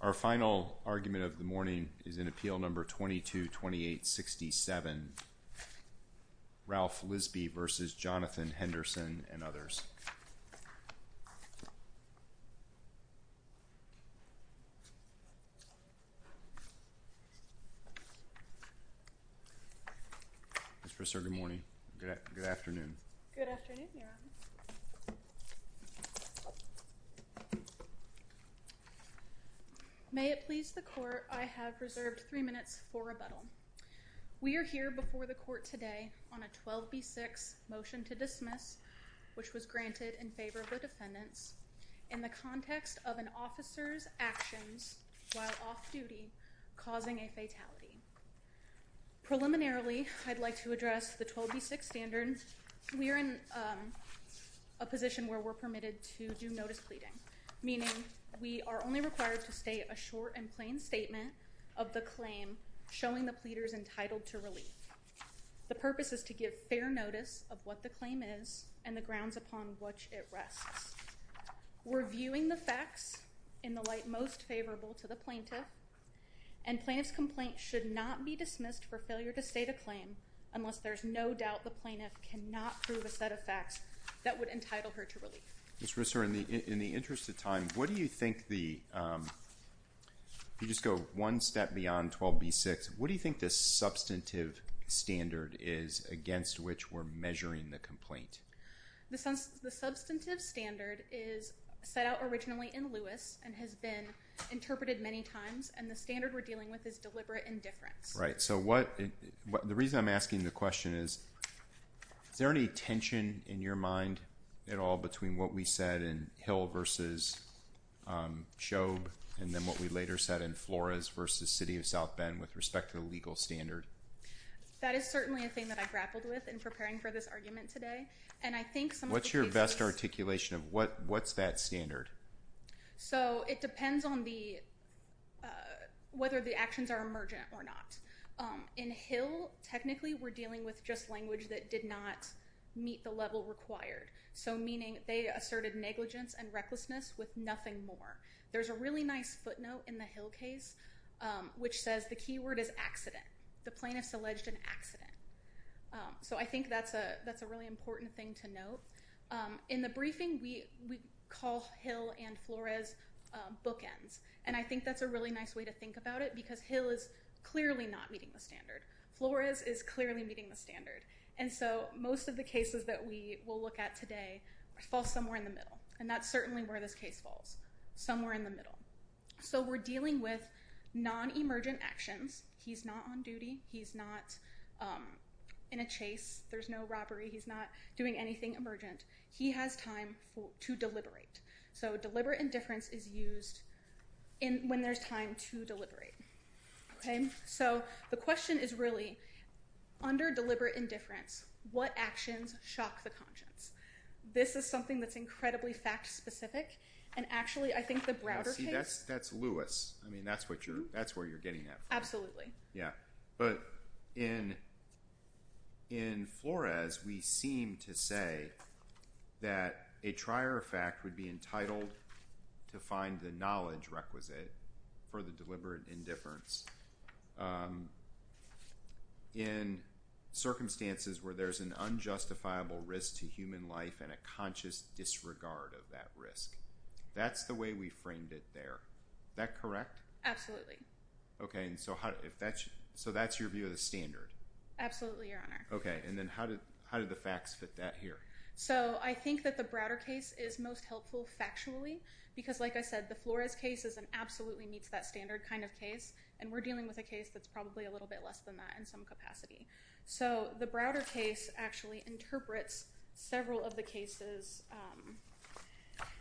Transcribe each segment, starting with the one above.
Our final argument of the morning is in Appeal No. 222867, Ralph Lisby v. Jonathan Henderson and others. Ms. Bristow, good morning, good afternoon. Good afternoon, Your Honor. May it please the Court, I have reserved three minutes for rebuttal. We are here before the Court today on a 12b6 motion to dismiss, which was granted in favor of the defendants, in the context of an officer's actions while off-duty causing a fatality. Preliminarily, I'd like to address the 12b6 standard. We are in a position where we're permitted to do notice pleading, meaning we are only required to state a short and plain statement of the claim showing the pleader is entitled to relief. The purpose is to give fair notice of what the claim is and the grounds upon which it rests. We're viewing the facts in the light most favorable to the plaintiff, and plaintiff's complaint should not be dismissed for failure to state a claim unless there's no doubt the plaintiff cannot prove a set of facts that would entitle her to relief. Ms. Bristow, in the interest of time, what do you think the, if you just go one step beyond 12b6, what do you think the substantive standard is against which we're measuring the complaint? The substantive standard is set out originally in Lewis and has been interpreted many times, and the standard we're dealing with is deliberate indifference. Right. So what, the reason I'm asking the question is, is there any tension in your mind at all between what we said in Hill v. Shoeb and then what we later said in Flores v. City of South Bend with respect to the legal standard? That is certainly a thing that I grappled with in preparing for this argument today, and I think some of the cases- What's your best articulation of what's that standard? So it depends on the, whether the actions are emergent or not. In Hill, technically we're dealing with just language that did not meet the level required. So meaning they asserted negligence and recklessness with nothing more. There's a really nice footnote in the Hill case which says the keyword is accident. The plaintiff's alleged an accident. In the briefing, we call Hill and Flores bookends, and I think that's a really nice way to think about it because Hill is clearly not meeting the standard. Flores is clearly meeting the standard. And so most of the cases that we will look at today fall somewhere in the middle, and that's certainly where this case falls, somewhere in the middle. So we're dealing with non-emergent actions. He's not on duty. He's not in a chase. There's no robbery. He's not doing anything emergent. He has time to deliberate. So deliberate indifference is used when there's time to deliberate. So the question is really, under deliberate indifference, what actions shock the conscience? This is something that's incredibly fact-specific, and actually I think the Browder case- That's Lewis. I mean, that's what you're, that's where you're getting at. Absolutely. Yeah. But in Flores, we seem to say that a trier of fact would be entitled to find the knowledge requisite for the deliberate indifference in circumstances where there's an unjustifiable risk to human life and a conscious disregard of that risk. That's the way we framed it there. That correct? Absolutely. Okay. And so how, if that's, so that's your view of the standard? Absolutely, Your Honor. Okay. And then how did, how did the facts fit that here? So I think that the Browder case is most helpful factually, because like I said, the Flores case is an absolutely meets that standard kind of case, and we're dealing with a case that's probably a little bit less than that in some capacity. So the Browder case actually interprets several of the cases,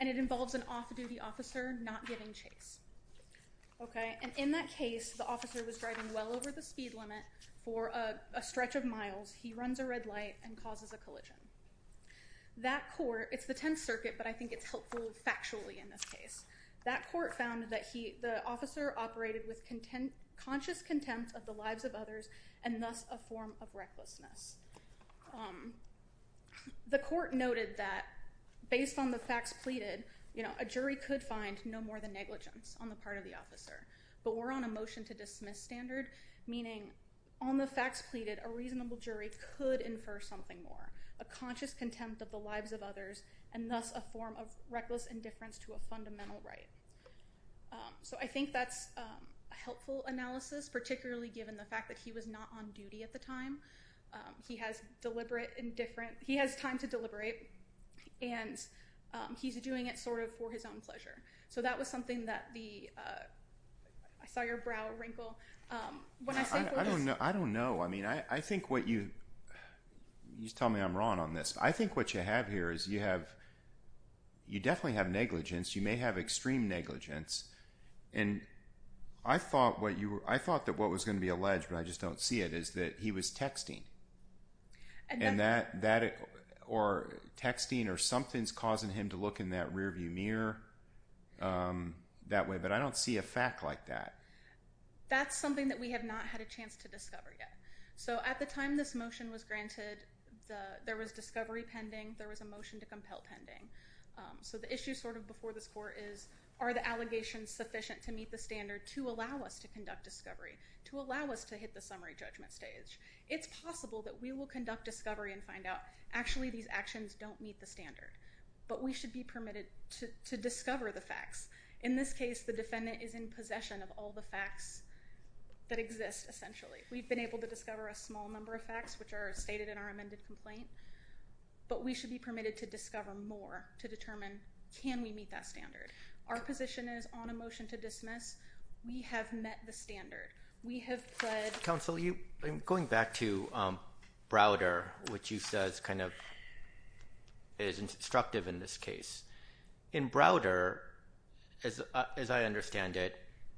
and it involves an off-duty officer not giving chase. Okay. And in that case, the officer was driving well over the speed limit for a stretch of miles. He runs a red light and causes a collision. That court, it's the Tenth Circuit, but I think it's helpful factually in this case. That court found that he, the officer operated with content, conscious contempt of the lives of others, and thus a form of recklessness. The court noted that based on the facts pleaded, you know, a jury could find no more than negligence. On the part of the officer. But we're on a motion to dismiss standard, meaning on the facts pleaded, a reasonable jury could infer something more. A conscious contempt of the lives of others, and thus a form of reckless indifference to a fundamental right. So I think that's a helpful analysis, particularly given the fact that he was not on duty at the time. He has deliberate indifference. He has time to deliberate, and he's doing it sort of for his own pleasure. So that was something that the, I saw your brow wrinkle. I don't know. I mean, I think what you, you're telling me I'm wrong on this. I think what you have here is you have, you definitely have negligence. You may have extreme negligence. And I thought that what was going to be alleged, but I just don't see it, is that he was texting. And that, or texting or something's causing him to look in that rear view mirror that way. But I don't see a fact like that. That's something that we have not had a chance to discover yet. So at the time this motion was granted, there was discovery pending. There was a motion to compel pending. So the issue sort of before this court is, are the allegations sufficient to meet the standard to allow us to conduct discovery? To allow us to hit the summary judgment stage? It's possible that we will conduct discovery and find out, actually these actions don't meet the standard. But we should be permitted to discover the facts. In this case, the defendant is in possession of all the facts that exist, essentially. We've been able to discover a small number of facts which are stated in our amended complaint. But we should be permitted to discover more to determine, can we meet that standard? Our position is, on a motion to dismiss, we have met the standard. We have pled... Mr. Counsel, going back to Browder, which you said is instructive in this case. In Browder, as I understand it,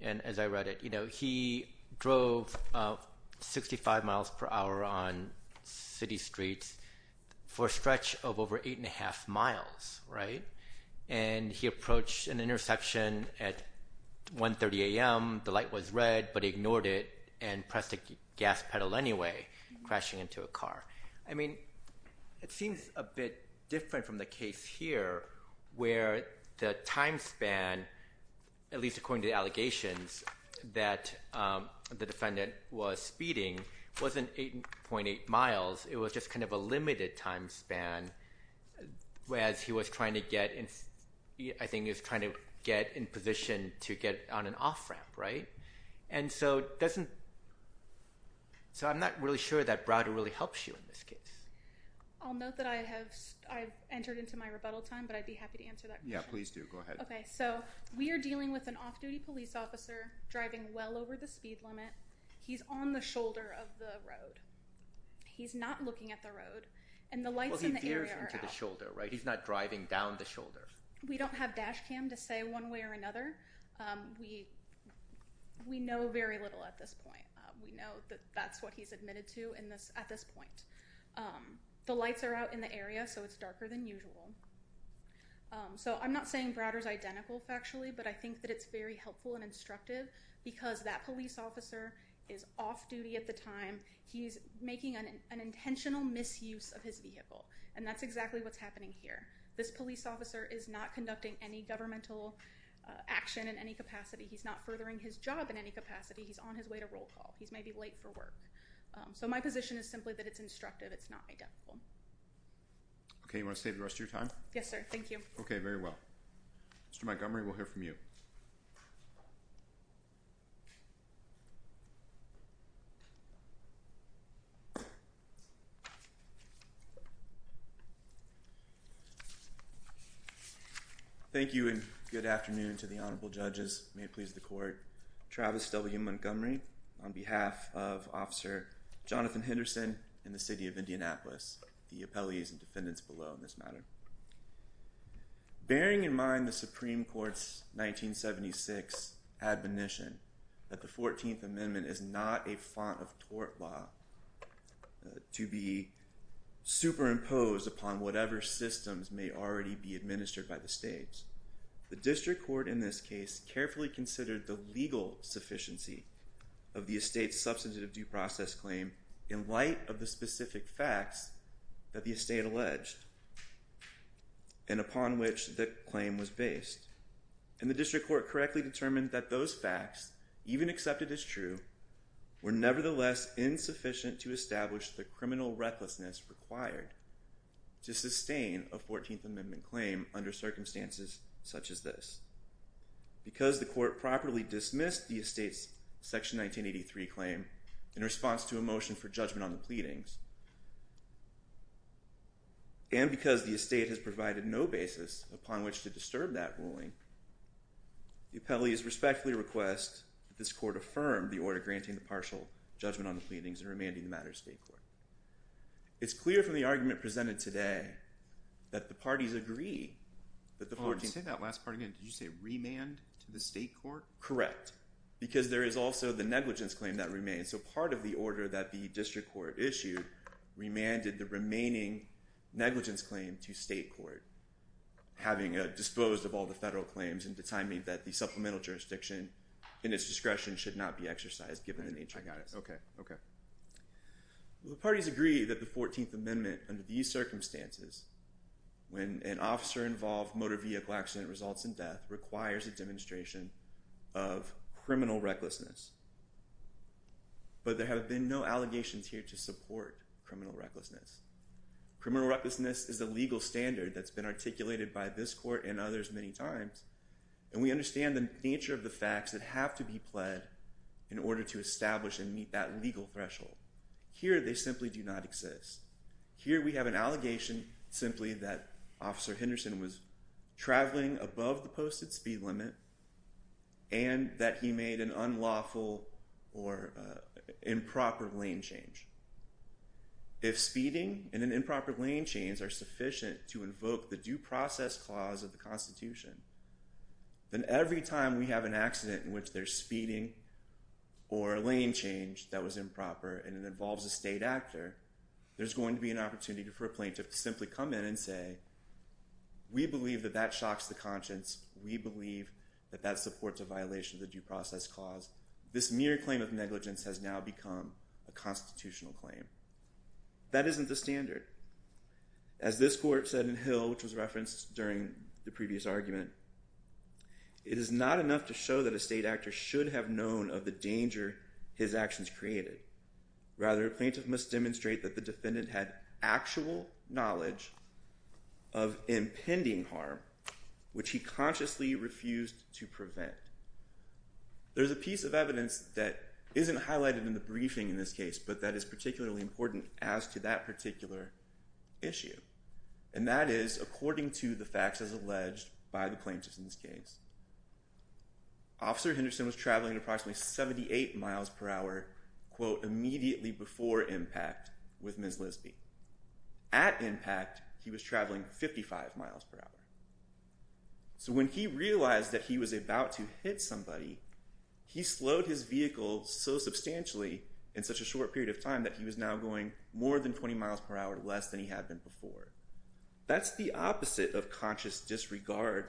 and as I read it, he drove 65 miles per hour on city streets for a stretch of over eight and a half miles, right? And he approached an intersection at 1.30 a.m., the light was red, but he ignored it and pressed the gas pedal anyway, crashing into a car. I mean, it seems a bit different from the case here where the time span, at least according to the allegations, that the defendant was speeding wasn't 8.8 miles, it was just kind of a limited time span, whereas he was trying to get, I think he was trying to get in position to get on an off-ramp, right? And so, doesn't, so I'm not really sure that Browder really helps you in this case. I'll note that I have, I've entered into my rebuttal time, but I'd be happy to answer that question. Yeah, please do. Go ahead. Okay, so we are dealing with an off-duty police officer driving well over the speed limit. He's on the shoulder of the road. He's not looking at the road. And the lights in the area are out. Well, he veers into the shoulder, right? He's not driving down the shoulder. We don't have dash cam to say one way or another. We know very little at this point. We know that that's what he's admitted to at this point. The lights are out in the area, so it's darker than usual. So I'm not saying Browder's identical factually, but I think that it's very helpful and instructive because that police officer is off-duty at the time. He's making an intentional misuse of his vehicle. And that's exactly what's happening here. This police officer is not conducting any governmental action in any capacity. He's not furthering his job in any capacity. He's on his way to roll call. He's maybe late for work. So my position is simply that it's instructive. It's not identical. Okay, you want to save the rest of your time? Yes, sir. Thank you. Okay, very well. Mr. Montgomery, we'll hear from you. Thank you, and good afternoon to the Honorable Judges. May it please the Court. Travis W. Montgomery on behalf of Officer Jonathan Henderson and the City of Indianapolis, the appellees and defendants below in this matter. Bearing in mind the Supreme Court's 1976 admonition that the 14th Amendment is not a font of tort law to be superimposed upon whatever systems may already be administered by the states, the District Court in this case carefully considered the legal sufficiency of the estate's substantive due process claim in light of the specific facts that the estate alleged and upon which the claim was based. And the District Court correctly determined that those facts, even accepted as true, were nevertheless insufficient to establish the criminal recklessness required to sustain a 14th Amendment claim under circumstances such as this. Because the Court properly dismissed the estate's Section 1983 claim in response to a motion for judgment on the pleadings, and because the estate has provided no basis upon which to disturb that ruling, the appellees respectfully request that this Court affirm the order granting the partial judgment on the pleadings and remanding the matter to state court. It's clear from the argument presented today that the parties agree that the 14th— Oh, say that last part again. Did you say remand to the state court? Correct. Because there is also the negligence claim that remains. So part of the order that the District Court issued remanded the remaining negligence claim to state court, having disposed of all the federal claims and determining that the supplemental jurisdiction in its discretion should not be exercised given the nature of this. I got it. Okay. Okay. The parties agree that the 14th Amendment under these circumstances, when an officer-involved motor vehicle accident results in death, requires a demonstration of criminal recklessness. But there have been no allegations here to support criminal recklessness. Criminal recklessness is a legal standard that's been articulated by this Court and the nature of the facts that have to be pled in order to establish and meet that legal threshold. Here, they simply do not exist. Here, we have an allegation simply that Officer Henderson was traveling above the posted speed limit and that he made an unlawful or improper lane change. If speeding and an improper lane change are sufficient to invoke the due process clause of the Constitution, then every time we have an accident in which there's speeding or a lane change that was improper and it involves a state actor, there's going to be an opportunity for a plaintiff to simply come in and say, we believe that that shocks the conscience. We believe that that supports a violation of the due process clause. This mere claim of negligence has now become a constitutional claim. That isn't the standard. As this Court said in Hill, which was referenced during the previous argument, it is not enough to show that a state actor should have known of the danger his actions created. Rather, a plaintiff must demonstrate that the defendant had actual knowledge of impending harm, which he consciously refused to prevent. There's a piece of evidence that isn't highlighted in the briefing in this case, but that is particularly important as to that particular issue, and that is according to the facts as alleged by the plaintiffs in this case. Officer Henderson was traveling at approximately 78 miles per hour, quote, immediately before impact with Ms. Lisby. At impact, he was traveling 55 miles per hour. So when he realized that he was about to hit somebody, he slowed his vehicle so substantially in such a short period of time that he was now going more than 20 miles per hour, less than he had been before. That's the opposite of conscious disregard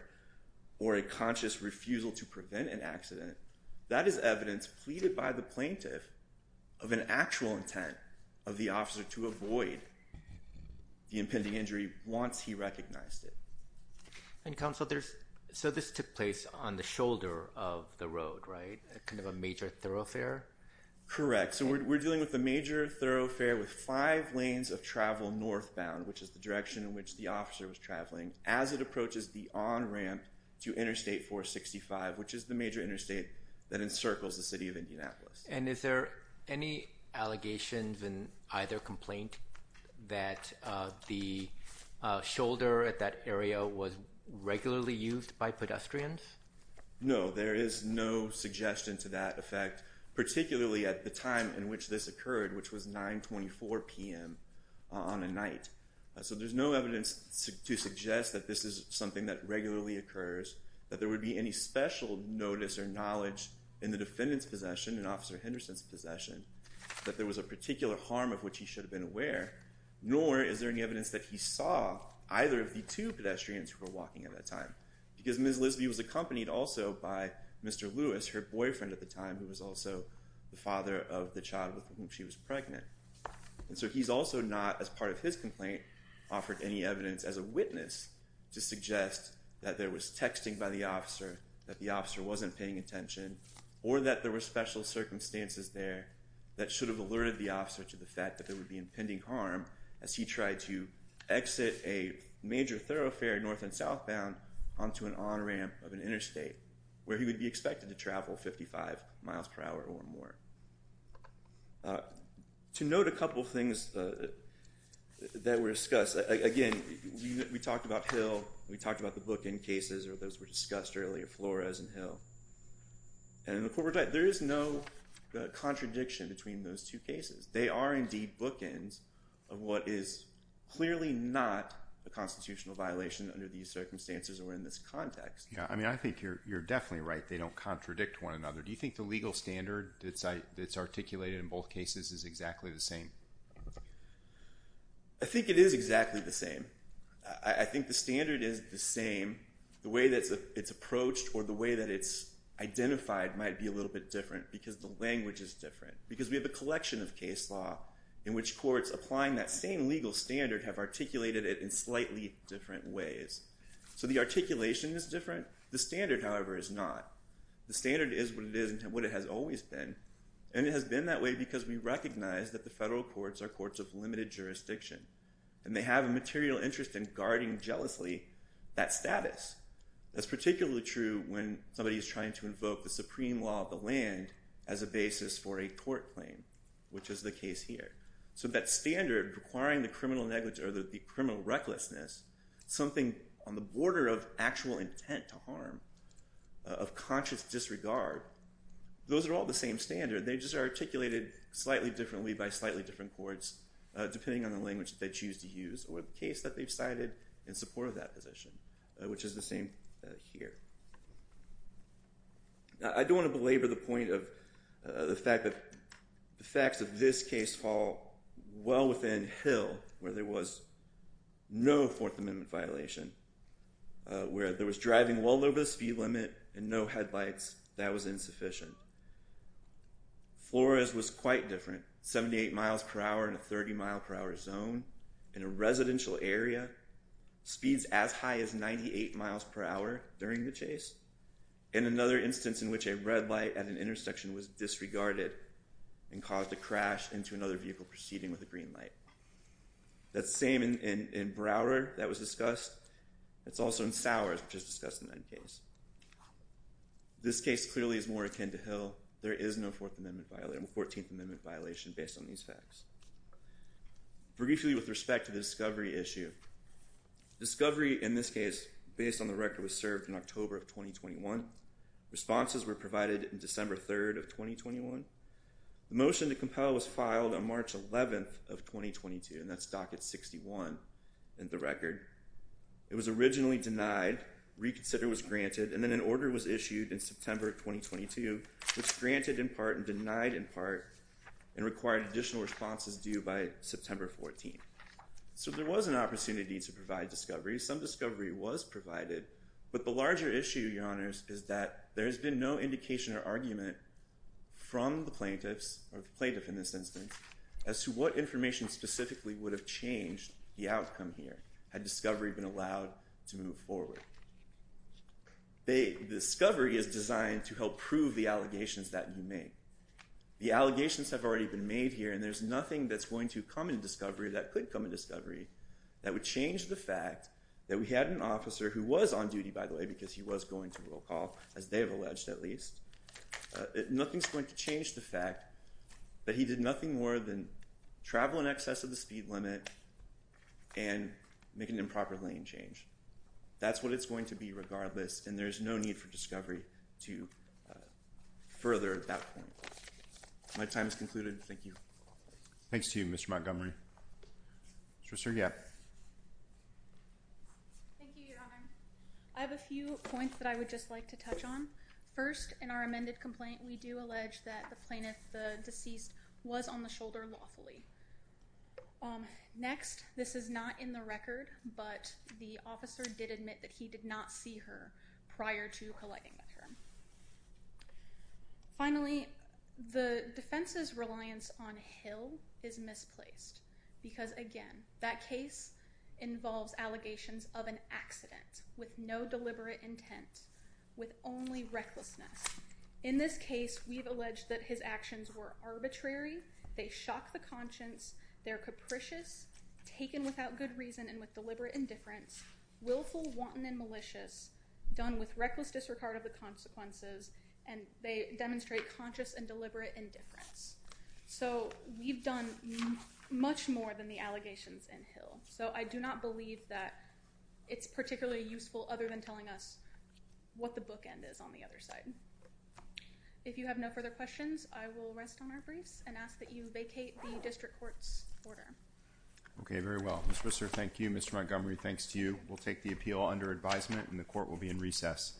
or a conscious refusal to prevent an accident. That is evidence pleaded by the plaintiff of an actual intent of the officer to avoid the impending injury once he recognized it. And, Counsel, so this took place on the shoulder of the road, right? Kind of a major thoroughfare? Correct. So we're dealing with a major thoroughfare with five lanes of travel northbound, which is the direction in which the officer was traveling as it approaches the on-ramp to Interstate 465, which is the major interstate that encircles the city of Indianapolis. And is there any allegations in either complaint that the shoulder at that area was regularly used by pedestrians? No, there is no suggestion to that effect, particularly at the time in which this occurred, which was 924 p.m. on a night. So there's no evidence to suggest that this is something that regularly occurs, that there would be any special notice or knowledge in the defendant's possession, in Officer Henderson's possession, that there was a particular harm of which he should have been aware, nor is there any evidence that he saw either of the two pedestrians who were walking at that time, because Ms. Lisby was accompanied also by Mr. Lewis, her boyfriend at the time, who was also the father of the child with whom she was pregnant. And so he's also not, as part of his complaint, offered any evidence as a witness to suggest that there was texting by the officer, that the officer wasn't paying attention, or that there were special circumstances there that should have alerted the officer to the fact that there would be impending harm as he tried to exit a major thoroughfare north and southbound onto an on-ramp of an interstate, where he would be expected to travel 55 miles per hour or more. To note a couple of things that were discussed, again, we talked about Hill, we talked about the bookend cases, or those were discussed earlier, Flores and Hill. And in the court report, there is no contradiction between those two cases. They are indeed bookends of what is clearly not a constitutional violation under these circumstances or in this context. Yeah, I mean, I think you're definitely right. They don't contradict one another. Do you think the legal standard that's articulated in both cases is exactly the same? I think it is exactly the same. I think the standard is the same. The way that it's approached or the way that it's identified might be a little bit different because the language is different, because we have a collection of case law in which courts applying that same legal standard have articulated it in slightly different ways. So the articulation is different. The standard, however, is not. The standard is what it is and what it has always been. And it has been that way because we recognize that the federal courts are courts of limited jurisdiction. And they have a material interest in guarding jealously that status. That's particularly true when somebody is trying to invoke the supreme law of the land as a basis for a court claim, which is the case here. So that standard requiring the criminal negligence or the criminal recklessness, something on the border of actual intent to harm, of conscious disregard, those are all the same standard. They just are articulated slightly differently by slightly different courts depending on the language that they choose to use or the case that they've cited in support of that position, which is the same here. I don't want to belabor the point of the fact that the facts of this case fall well within Hill where there was no Fourth Amendment violation, where there was driving well over the speed limit and no headlights. That was insufficient. Flores was quite different, 78 miles per hour in a 30 mile per hour zone in a residential area, speeds as high as 98 miles per hour during the chase, and another instance in which a red light at an intersection was disregarded and caused a crash into another vehicle proceeding with a green light. That's the same in Broward that was discussed. It's also in Sowers, which is discussed in that case. This case clearly is more akin to Hill. There is no Fourteenth Amendment violation based on these facts. Briefly with respect to the discovery issue, discovery in this case, based on the record, was served in October of 2021. Responses were provided in December 3rd of 2021. The motion to compel was filed on March 11th of 2022, and that's docket 61 in the record. It was originally denied, reconsidered, was granted, and then an order was issued in September of 2022, which granted in part and denied in part and required additional responses due by September 14th. So there was an opportunity to provide discovery. Some discovery was provided, but the larger issue, Your Honors, is that there has been no indication or argument from the plaintiffs, or the plaintiff in this instance, as to what information specifically would have changed the outcome here had discovery been allowed to move forward. The discovery is designed to help prove the allegations that you make. The allegations have already been made here, and there's nothing that's going to come in discovery that could come in discovery that would change the fact that we had an officer who was on duty, by the way, because he was going to roll call, as they have alleged at least. Nothing's going to change the fact that he did nothing more than travel in excess of the speed limit and make an improper lane change. That's what it's going to be regardless, and there's no need for discovery to further that point. My time is concluded. Thank you. Thanks to you, Mr. Montgomery. Solicitor Gap. Thank you, Your Honor. I have a few points that I would just like to touch on. First, in our amended complaint, we do allege that the plaintiff, the deceased, was on the shoulder lawfully. Next, this is not in the record, but the officer did admit that he did not see her prior to colliding with her. Finally, the defense's reliance on Hill is misplaced because, again, that case involves allegations of an accident with no deliberate intent, with only recklessness. In this case, we've alleged that his actions were arbitrary. They shock the conscience. They're capricious, taken without good reason and with deliberate indifference, willful, wanton, and malicious, done with reckless disregard of the consequences, and they demonstrate conscious and deliberate indifference. So we've done much more than the allegations in Hill. So I do not believe that it's particularly useful other than telling us what the bookend is on the other side. If you have no further questions, I will rest on our briefs and ask that you vacate the district court's order. Okay, very well. Mr. Whistler, thank you. Mr. Montgomery, thanks to you. We'll take the appeal under advisement, and the court will be in recess.